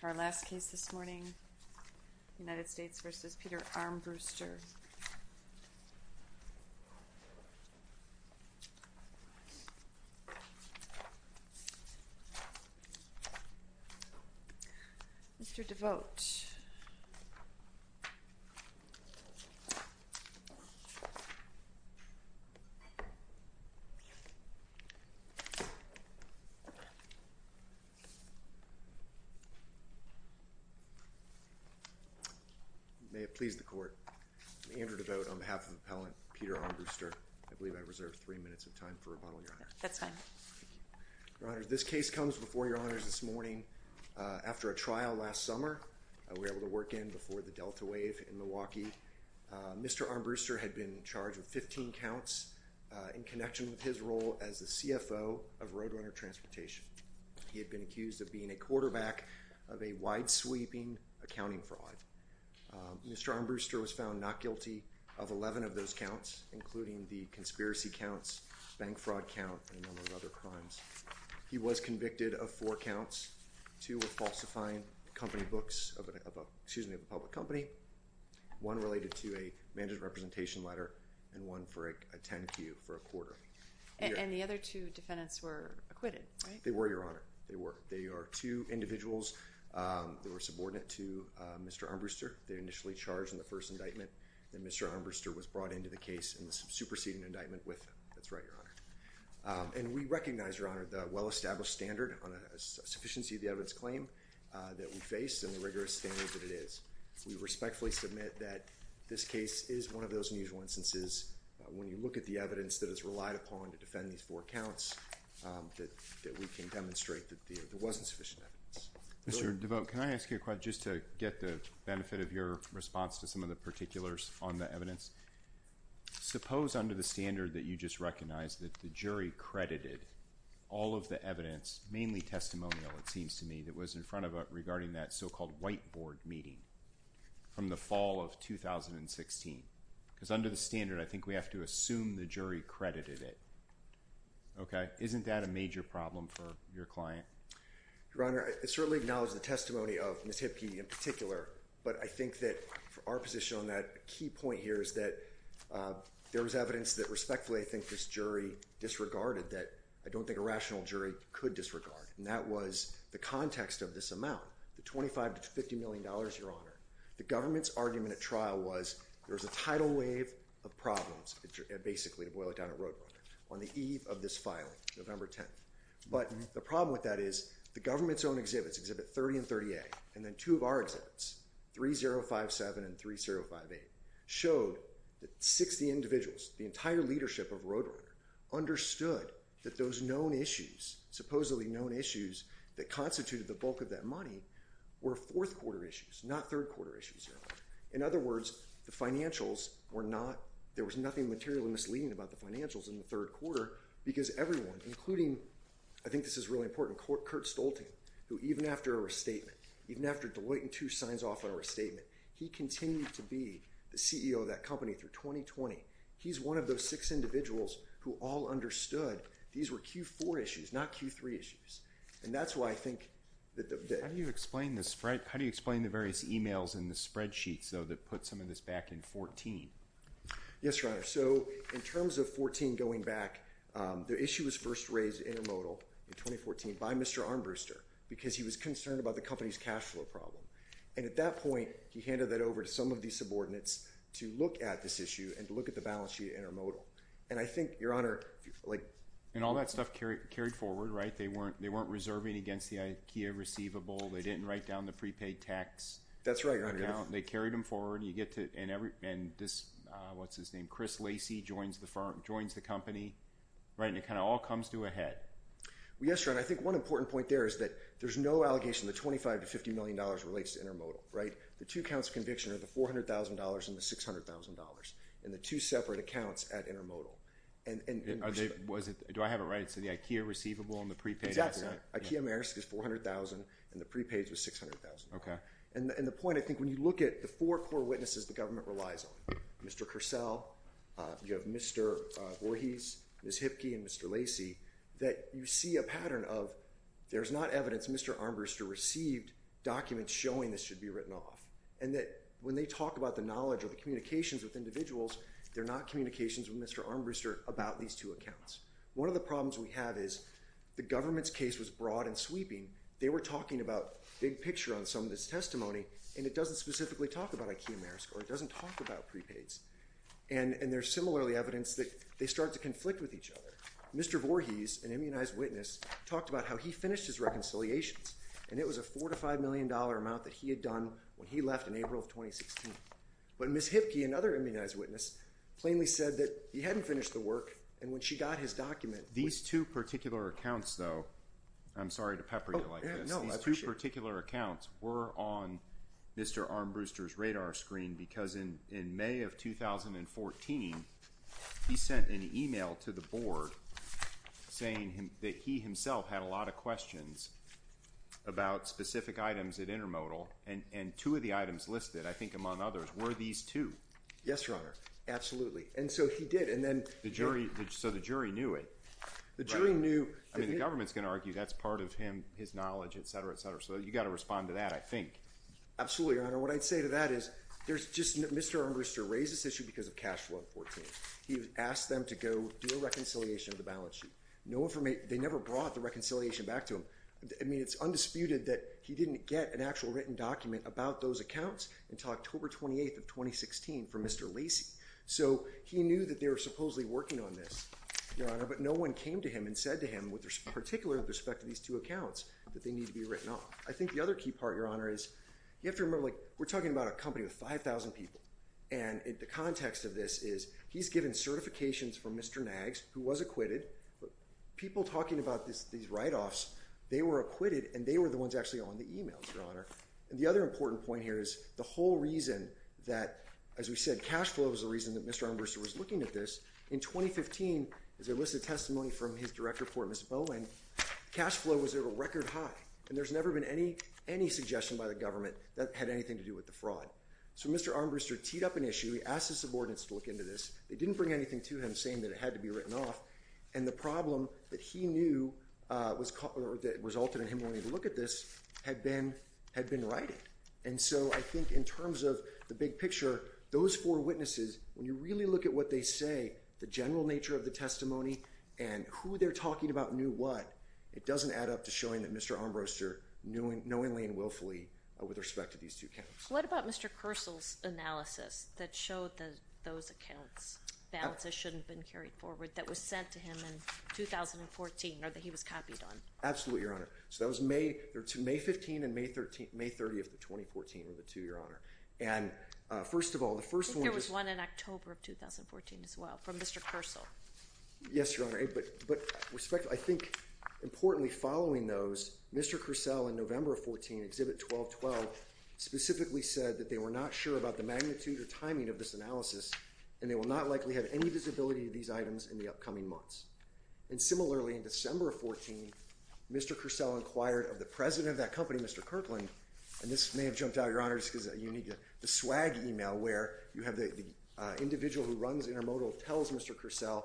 to our last case this morning, United States v. Peter Armbruster. Mr. Devote. May have pleased the Court. I believe I reserved three minutes of time for rebuttal, Your Honor. That's fine. Thank you. Your Honor, this case comes before Your Honors this morning. After a trial last summer, we were able to work in before the Delta wave in Milwaukee. Mr. Armbruster had been charged with 15 counts in connection with his role as the CFO of Roadrunner Transportation. He had been accused of being a quarterback of a wide-sweeping accounting fraud. Mr. Armbruster was found not guilty of 11 of those counts, including the conspiracy counts, bank fraud count, and a number of other crimes. He was convicted of four counts, two with falsifying company books of a public company, one related to a management representation letter, and one for a 10-Q for a quarter. And the other two defendants were acquitted, right? They were, Your Honor. They were. There are two individuals that were subordinate to Mr. Armbruster. They were initially charged in the first indictment, and Mr. Armbruster was brought into the case in the superseding indictment with them. That's right, Your Honor. And we recognize, Your Honor, the well-established standard on a sufficiency of the evidence claim that we face and the rigorous standards that it is. We respectfully submit that this case is one of those unusual instances when you look at the evidence that is relied upon to defend these four counts that we can demonstrate that there wasn't sufficient evidence. Mr. DeVoe, can I ask you a question just to get the benefit of your response to some of the particulars on the evidence? Suppose under the standard that you just recognized that the jury credited all of the evidence, mainly testimonial it seems to me, that was in front of it regarding that so-called whiteboard meeting from the fall of 2016. Because under the standard, I think we have to assume the jury credited it. Okay? Isn't that a major problem for your client? Your Honor, I certainly acknowledge the testimony of Ms. Hipke in particular, but I think that for our position on that, a key point here is that there was evidence that respectfully I think this jury disregarded that I don't think a rational jury could disregard, and that was the context of this amount, the $25 to $50 million, Your Honor. The government's argument at trial was there was a tidal wave of problems, basically, to number 10. But the problem with that is the government's own exhibits, Exhibit 30 and 30A, and then two of our exhibits, 3057 and 3058, showed that 60 individuals, the entire leadership of Roadrunner, understood that those known issues, supposedly known issues that constituted the bulk of that money were fourth quarter issues, not third quarter issues, Your Honor. In other words, the financials were not, there was nothing materially misleading about the including, I think this is really important, Kurt Stolten, who even after a restatement, even after Deloitte & 2 signs off on a restatement, he continued to be the CEO of that company through 2020. He's one of those six individuals who all understood these were Q4 issues, not Q3 issues. And that's why I think that the- How do you explain the various emails in the spreadsheets, though, that put some of this back in 14? Yes, Your Honor. So, in terms of 14 going back, the issue was first raised at Intermodal in 2014 by Mr. Armbruster, because he was concerned about the company's cash flow problem. And at that point, he handed that over to some of these subordinates to look at this issue and to look at the balance sheet at Intermodal. And I think, Your Honor, like- And all that stuff carried forward, right? They weren't reserving against the IKEA receivable, they didn't write down the prepaid tax- That's right, Your Honor. They carried them forward, and you get to- And this- What's his name? Chris Lacey joins the firm, joins the company, and it kind of all comes to a head. Well, yes, Your Honor. I think one important point there is that there's no allegation the $25 to $50 million relates to Intermodal, right? The two counts of conviction are the $400,000 and the $600,000, and the two separate accounts at Intermodal. And- Was it- Do I have it right? So, the IKEA receivable and the prepaid- Exactly. IKEA-Marisk is $400,000, and the prepaid was $600,000. Okay. And the point, I think, when you look at the four core witnesses the government relies on, Mr. Kersell, you have Mr. Voorhees, Ms. Hipke, and Mr. Lacey, that you see a pattern of there's not evidence Mr. Armbruster received documents showing this should be written off, and that when they talk about the knowledge or the communications with individuals, they're not communications with Mr. Armbruster about these two accounts. One of the problems we have is the government's case was broad and sweeping. They were talking about big picture on some of this testimony, and it doesn't specifically talk about IKEA-Marisk, or it doesn't talk about prepaids. And there's similarly evidence that they start to conflict with each other. Mr. Voorhees, an immunized witness, talked about how he finished his reconciliations, and it was a $4 to $5 million amount that he had done when he left in April of 2016. But Ms. Hipke, another immunized witness, plainly said that he hadn't finished the work, and when she got his document- These two particular accounts, though, I'm sorry to pepper you like this, these two particular accounts were on Mr. Armbruster's radar screen, because in May of 2014, he sent an email to the board saying that he himself had a lot of questions about specific items at Intermodal, and two of the items listed, I think among others, were these two. Yes, Your Honor, absolutely. And so he did, and then- So the jury knew it. The jury knew- I mean, the government's going to argue that's part of him, his knowledge, et cetera, et cetera. So you've got to respond to that, I think. Absolutely, Your Honor. What I'd say to that is, Mr. Armbruster raised this issue because of cash flow in 2014. He asked them to go do a reconciliation of the balance sheet. They never brought the reconciliation back to him. I mean, it's undisputed that he didn't get an actual written document about those accounts until October 28th of 2016 from Mr. Lacey. So he knew that they were supposedly working on this, Your Honor, but no one came to him and said to him, with particular respect to these two accounts, that they need to be written off. I think the other key part, Your Honor, is you have to remember, like, we're talking about a company with 5,000 people, and the context of this is he's given certifications from Mr. Nags, who was acquitted, but people talking about these write-offs, they were acquitted, and they were the ones actually on the emails, Your Honor. The other important point here is the whole reason that, as we said, cash flow was the reason that Mr. Armbruster was looking at this. In 2015, as illicit testimony from his direct report, Mr. Bowen, cash flow was at a record high, and there's never been any suggestion by the government that it had anything to do with the fraud. So Mr. Armbruster teed up an issue, he asked his subordinates to look into this. They didn't bring anything to him saying that it had to be written off, and the problem that he knew resulted in him wanting to look at this had been writing. And so I think in terms of the big picture, those four witnesses, when you really look at what they say, the general nature of the testimony, and who they're talking about knew what, it doesn't add up to showing that Mr. Armbruster, knowingly and willfully, with respect to these two accounts. What about Mr. Kersl's analysis that showed that those accounts, balances shouldn't have been carried forward, that was sent to him in 2014, or that he was copied on? Absolutely, Your Honor. So that was May 15 and May 30 of 2014, or the two, Your Honor. And first of all, the first one was... I think there was one in October of 2014 as well, from Mr. Kersl. Yes, Your Honor. But I think, importantly, following those, Mr. Kersl, in November of 2014, Exhibit 1212, and they will not likely have any visibility of these items in the upcoming months. And similarly, in December of 2014, Mr. Kersl inquired of the president of that company, Mr. Kirkland, and this may have jumped out, Your Honor, just because you need the swag email where you have the individual who runs Intermodal tells Mr. Kersl,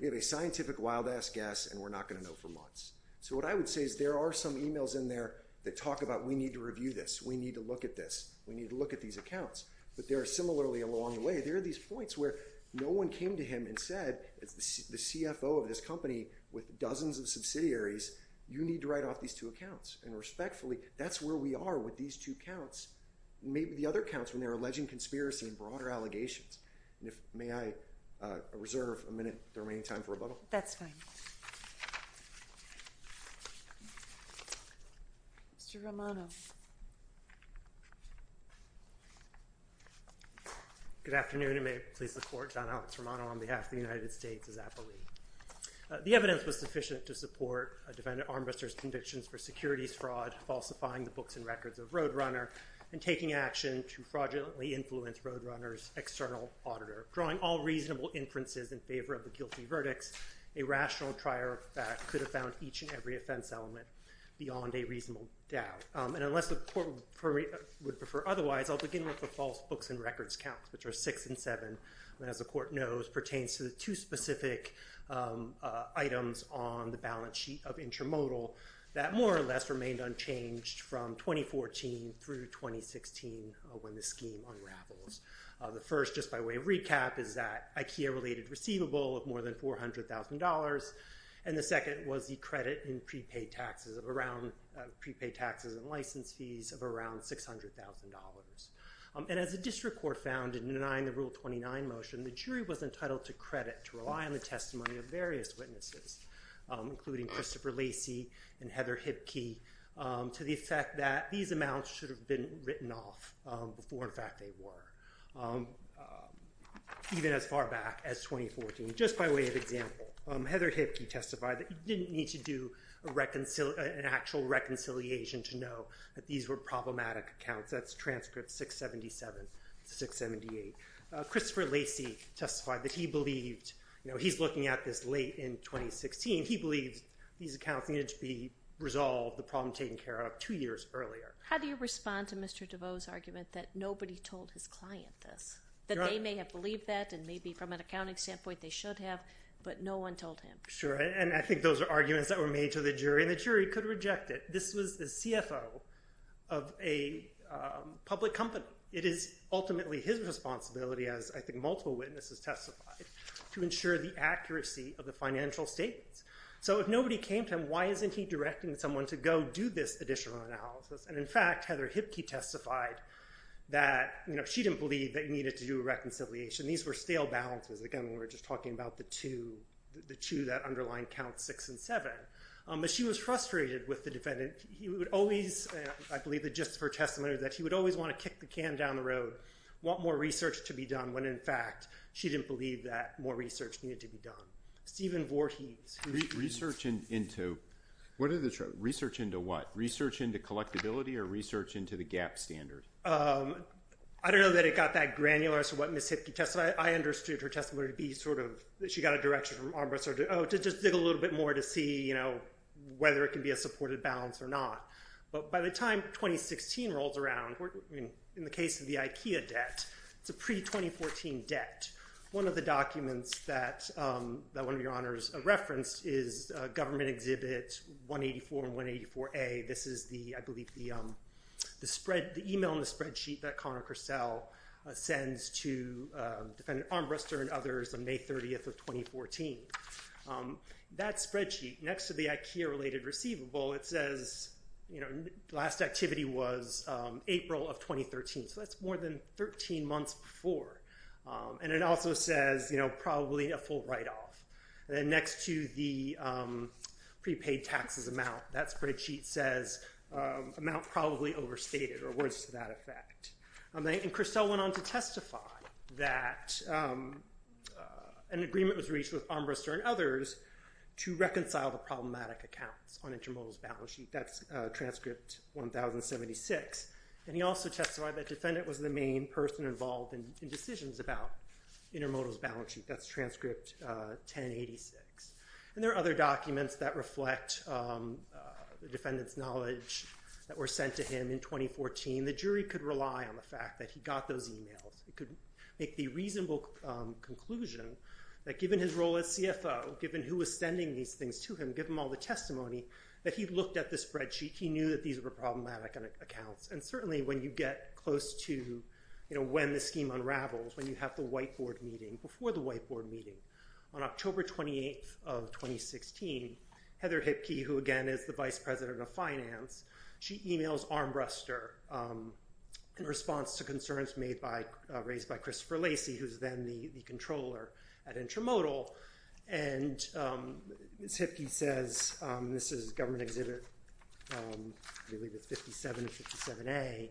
we have a scientific wild ass guess and we're not going to know for months. So what I would say is there are some emails in there that talk about, we need to review this. We need to look at this. We need to look at these accounts. But there are similarly along the way, there are these points where no one came to him and said, the CFO of this company with dozens of subsidiaries, you need to write off these two accounts. And respectfully, that's where we are with these two counts. Maybe the other counts when they're alleging conspiracy and broader allegations. And if, may I reserve a minute, the remaining time for rebuttal? That's fine. Mr. Romano. Good afternoon. And may it please the Court, Don Alex Romano on behalf of the United States as appellee. The evidence was sufficient to support a defendant armbuster's convictions for securities fraud, falsifying the books and records of Roadrunner, and taking action to fraudulently influence Roadrunner's external auditor, drawing all reasonable inferences in favor of the guilty verdicts. A rational trier of fact could have found each and every offense element beyond a reasonable doubt. And unless the Court would prefer otherwise, I'll begin with the false books and records counts, which are six and seven. And as the Court knows, pertains to the two specific items on the balance sheet of intramodal that more or less remained unchanged from 2014 through 2016 when the scheme unravels. The first, just by way of recap, is that IKEA-related receivable of more than $400,000. And the second was the credit in prepaid taxes and license fees of around $600,000. And as the District Court found in denying the Rule 29 motion, the jury was entitled to credit to rely on the testimony of various witnesses, including Christopher Lacey and Heather Hipkey, to the effect that these amounts should have been written off before, in fact, they were, even as far back as 2014. Just by way of example, Heather Hipkey testified that you didn't need to do an actual reconciliation to know that these were problematic accounts. That's transcript 677 to 678. Christopher Lacey testified that he believed, you know, he's looking at this late in 2016, he believes these accounts needed to be resolved, the problem taken care of, two years earlier. How do you respond to Mr. DeVos' argument that nobody told his client this? That they may have believed that, and maybe from an accounting standpoint, they should have, but no one told him? Sure. And I think those are arguments that were made to the jury, and the jury could reject it. This was the CFO of a public company. It is ultimately his responsibility, as I think multiple witnesses testified, to ensure the accuracy of the financial statements. So if nobody came to him, why isn't he directing someone to go do this additional analysis and, in fact, Heather Hipkey testified that, you know, she didn't believe that you needed to do a reconciliation. These were stale balances. Again, we were just talking about the two that underline Counts 6 and 7. But she was frustrated with the defendant. He would always, I believe the gist of her testimony was that he would always want to kick the can down the road, want more research to be done, when, in fact, she didn't believe that more research needed to be done. Stephen Voorhees. Research into what? Research into collectability or research into the GAAP standard? I don't know that it got that granular as to what Ms. Hipkey testified. I understood her testimony to be sort of that she got a direction from Armbruster to just dig a little bit more to see, you know, whether it can be a supported balance or not. But by the time 2016 rolls around, in the case of the IKEA debt, it's a pre-2014 debt. And one of the documents that one of your honors referenced is Government Exhibit 184 and 184A. This is the, I believe, the email and the spreadsheet that Connor Cursell sends to Defendant Armbruster and others on May 30th of 2014. That spreadsheet, next to the IKEA-related receivable, it says, you know, the last activity was April of 2013. So that's more than 13 months before. And it also says, you know, probably a full write-off. And then next to the prepaid taxes amount, that spreadsheet says amount probably overstated or words to that effect. And Cursell went on to testify that an agreement was reached with Armbruster and others to reconcile the problematic accounts on Intermodal's balance sheet. That's transcript 1076. And he also testified that Defendant was the main person involved in decisions about Intermodal's balance sheet. That's transcript 1086. And there are other documents that reflect the defendant's knowledge that were sent to him in 2014. The jury could rely on the fact that he got those emails. It could make the reasonable conclusion that given his role as CFO, given who was sending these things to him, given all the testimony, that he'd looked at the spreadsheet, he And certainly when you get close to, you know, when the scheme unravels, when you have the white board meeting, before the white board meeting, on October 28th of 2016, Heather Hipkey, who again is the Vice President of Finance, she emails Armbruster in response to concerns raised by Christopher Lacey, who's then the controller at Intermodal. And Ms. Hipkey says, this is a government exhibit, I believe it's 57 or 57A,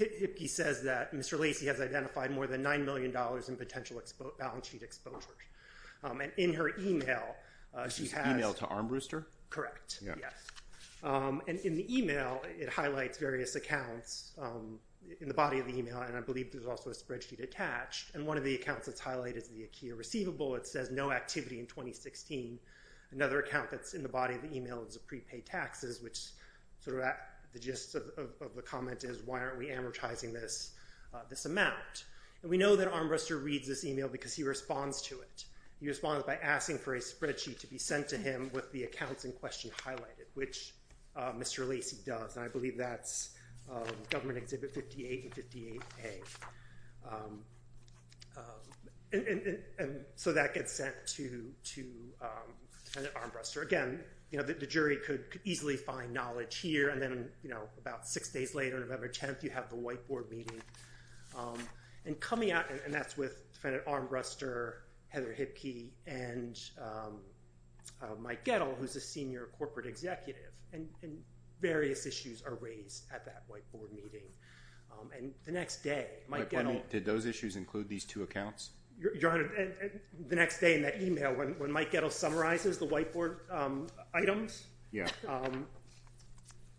Hipkey says that Mr. Lacey has identified more than $9 million in potential balance sheet exposure. And in her email, she has Email to Armbruster? Correct. Yes. And in the email, it highlights various accounts in the body of the email, and I believe there's also a spreadsheet attached. And one of the accounts that's highlighted is the IKEA receivable, it says no activity in 2016. Another account that's in the body of the email is a prepaid taxes, which sort of the gist of the comment is, why aren't we amortizing this amount? And we know that Armbruster reads this email because he responds to it. He responds by asking for a spreadsheet to be sent to him with the accounts in question highlighted, which Mr. Lacey does, and I believe that's government exhibit 58 and 58A. And so that gets sent to Defendant Armbruster. Again, the jury could easily find knowledge here, and then about six days later, November 10th, you have the White Board meeting. And coming out, and that's with Defendant Armbruster, Heather Hipkey, and Mike Gettle, who's a senior corporate executive. And various issues are raised at that White Board meeting. And the next day, Mike Gettle... My pardon me, did those issues include these two accounts? Your Honor, the next day in that email, when Mike Gettle summarizes the White Board items... Yeah.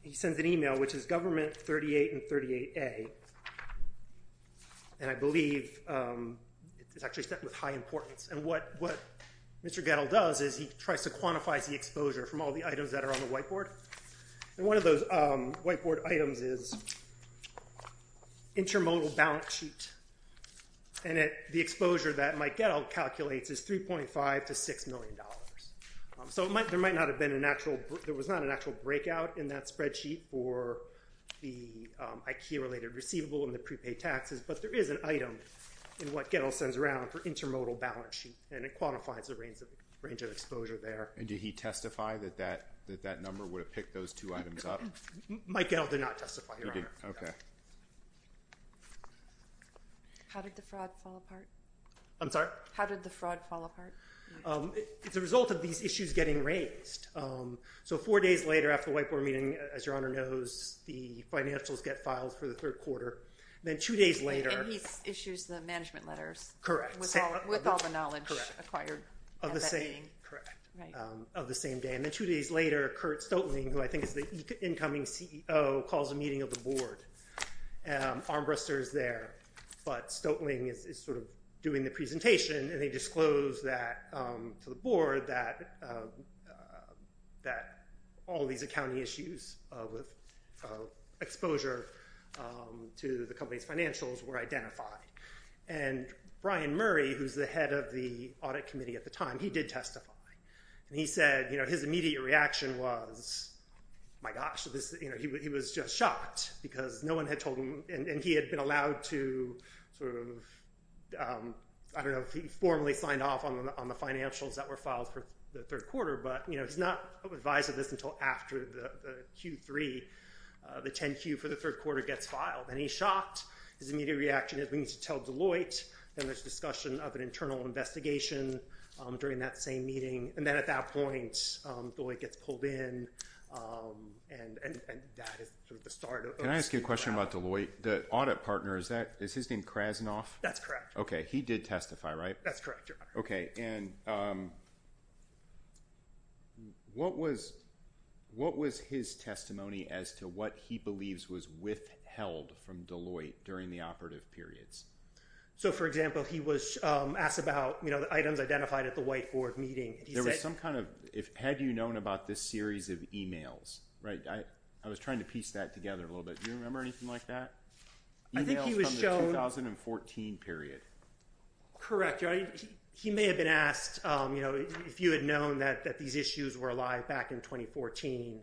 He sends an email, which is government 38 and 38A, and I believe it's actually sent with high importance. And what Mr. Gettle does is he tries to quantify the exposure from all the items that are on the White Board. And one of those White Board items is intermodal balance sheet. And the exposure that Mike Gettle calculates is $3.5 to $6 million. So there was not an actual breakout in that spreadsheet for the IKEA-related receivable and the prepaid taxes, but there is an item in what Gettle sends around for intermodal balance sheet, and it quantifies the range of exposure there. And did he testify that that number would have picked those two items up? Mike Gettle did not testify, Your Honor. Okay. How did the fraud fall apart? I'm sorry? How did the fraud fall apart? It's a result of these issues getting raised. So four days later after the White Board meeting, as Your Honor knows, the financials get filed for the third quarter. And then two days later... And he issues the management letters... Correct. With all the knowledge acquired at that meeting. Correct. Of the same day. And then two days later, Curt Stotling, who I think is the incoming CEO, calls a meeting of the Board. Armbruster is there, but Stotling is sort of doing the presentation, and they disclose that to the Board that all these accounting issues with exposure to the company's financials were identified. And Brian Murray, who's the head of the Audit Committee at the time, he did testify. And he said his immediate reaction was, my gosh, he was just shocked because no one had told him... And he had been allowed to sort of... I don't know if he formally signed off on the financials that were filed for the third quarter, but he's not advised of this until after the Q3, the 10-Q for the third quarter gets filed. And he's shocked. His immediate reaction is, we need to tell Deloitte. Then there's discussion of an internal investigation during that same meeting. And then at that point, Deloitte gets pulled in, and that is sort of the start of... Can I ask you a question about Deloitte? The audit partner, is his name Krasnov? That's correct. Okay. He did testify, right? That's correct, Your Honor. Okay. And what was his testimony as to what he believes was withheld from Deloitte during the operative periods? So, for example, he was asked about the items identified at the white board meeting. There was some kind of... Had you known about this series of emails? I was trying to piece that together a little bit. Do you remember anything like that? I think he was shown... Emails from the 2014 period. Correct, Your Honor. He may have been asked if you had known that these issues were alive back in 2014,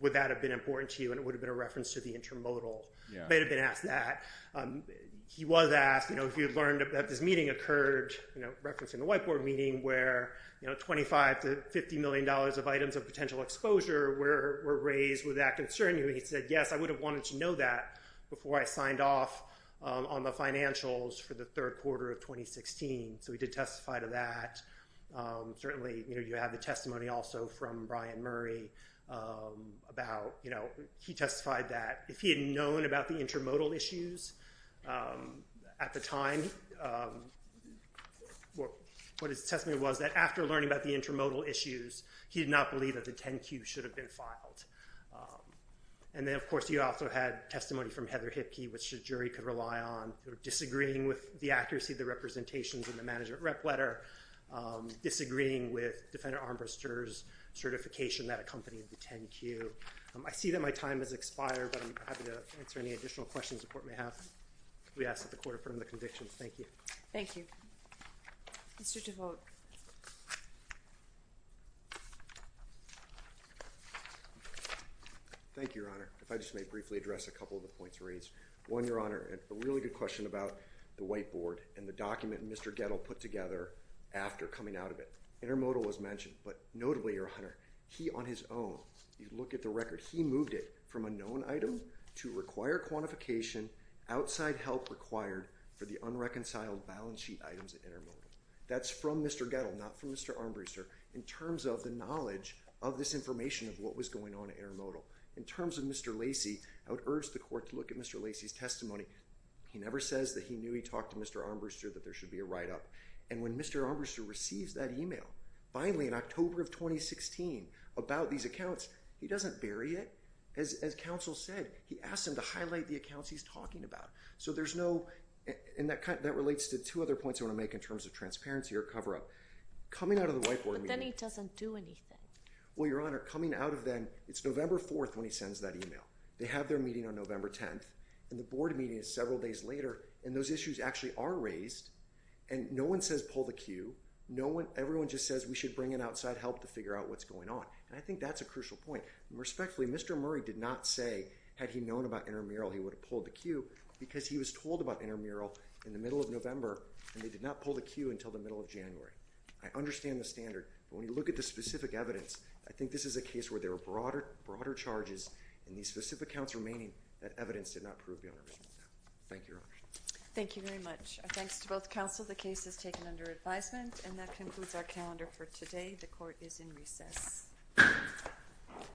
would that have been important to you, and it would have been a reference to the intermodal. Yeah. He may have been asked that. He was asked if you had learned that this meeting occurred, referencing the white board meeting, where $25 to $50 million of items of potential exposure were raised with that concern. He said, yes, I would have wanted to know that before I signed off on the financials for the third quarter of 2016. So he did testify to that. Certainly, you have the testimony also from Brian Murray about... He testified that if he had known about the intermodal issues at the time, what his testimony was that after learning about the intermodal issues, he did not believe that the 10Q should have been filed. And then, of course, you also had testimony from Heather Hipkey, which the jury could agree with the accuracy of the representations in the management rep letter, disagreeing with Defendant Armbruster's certification that accompanied the 10Q. I see that my time has expired, but I'm happy to answer any additional questions the Court may have. We ask that the Court affirm the convictions. Thank you. Thank you. Mr. DeVos. Thank you, Your Honor. If I just may briefly address a couple of the points raised. One, Your Honor, a really good question about the whiteboard and the document Mr. Gettle put together after coming out of it. Intermodal was mentioned, but notably, Your Honor, he on his own, you look at the record, he moved it from a known item to require quantification, outside help required for the unreconciled balance sheet items at intermodal. That's from Mr. Gettle, not from Mr. Armbruster. In terms of the knowledge of this information of what was going on at intermodal, in terms of Mr. Lacey, I would urge the Court to look at Mr. Lacey's testimony. He never says that he knew he talked to Mr. Armbruster that there should be a write-up. And when Mr. Armbruster receives that email, finally in October of 2016, about these accounts, he doesn't bury it. As counsel said, he asked him to highlight the accounts he's talking about. So there's no, and that relates to two other points I want to make in terms of transparency or cover-up. Coming out of the whiteboard meeting. But then he doesn't do anything. Well, Your Honor, coming out of then, it's November 4th when he sends that email. They have their meeting on November 10th. And the board meeting is several days later. And those issues actually are raised. And no one says pull the queue. No one, everyone just says we should bring in outside help to figure out what's going on. And I think that's a crucial point. Respectfully, Mr. Murray did not say had he known about intramural he would have pulled the queue because he was told about intramural in the middle of November and they did not pull the queue until the middle of January. I understand the standard. But when you look at the specific evidence, I think this is a case where there are broader charges and these specific counts remaining, that evidence did not prove beyond a reasonable doubt. Thank you, Your Honor. Thank you very much. Thanks to both counsel. The case is taken under advisement. And that concludes our calendar for today. The court is in recess.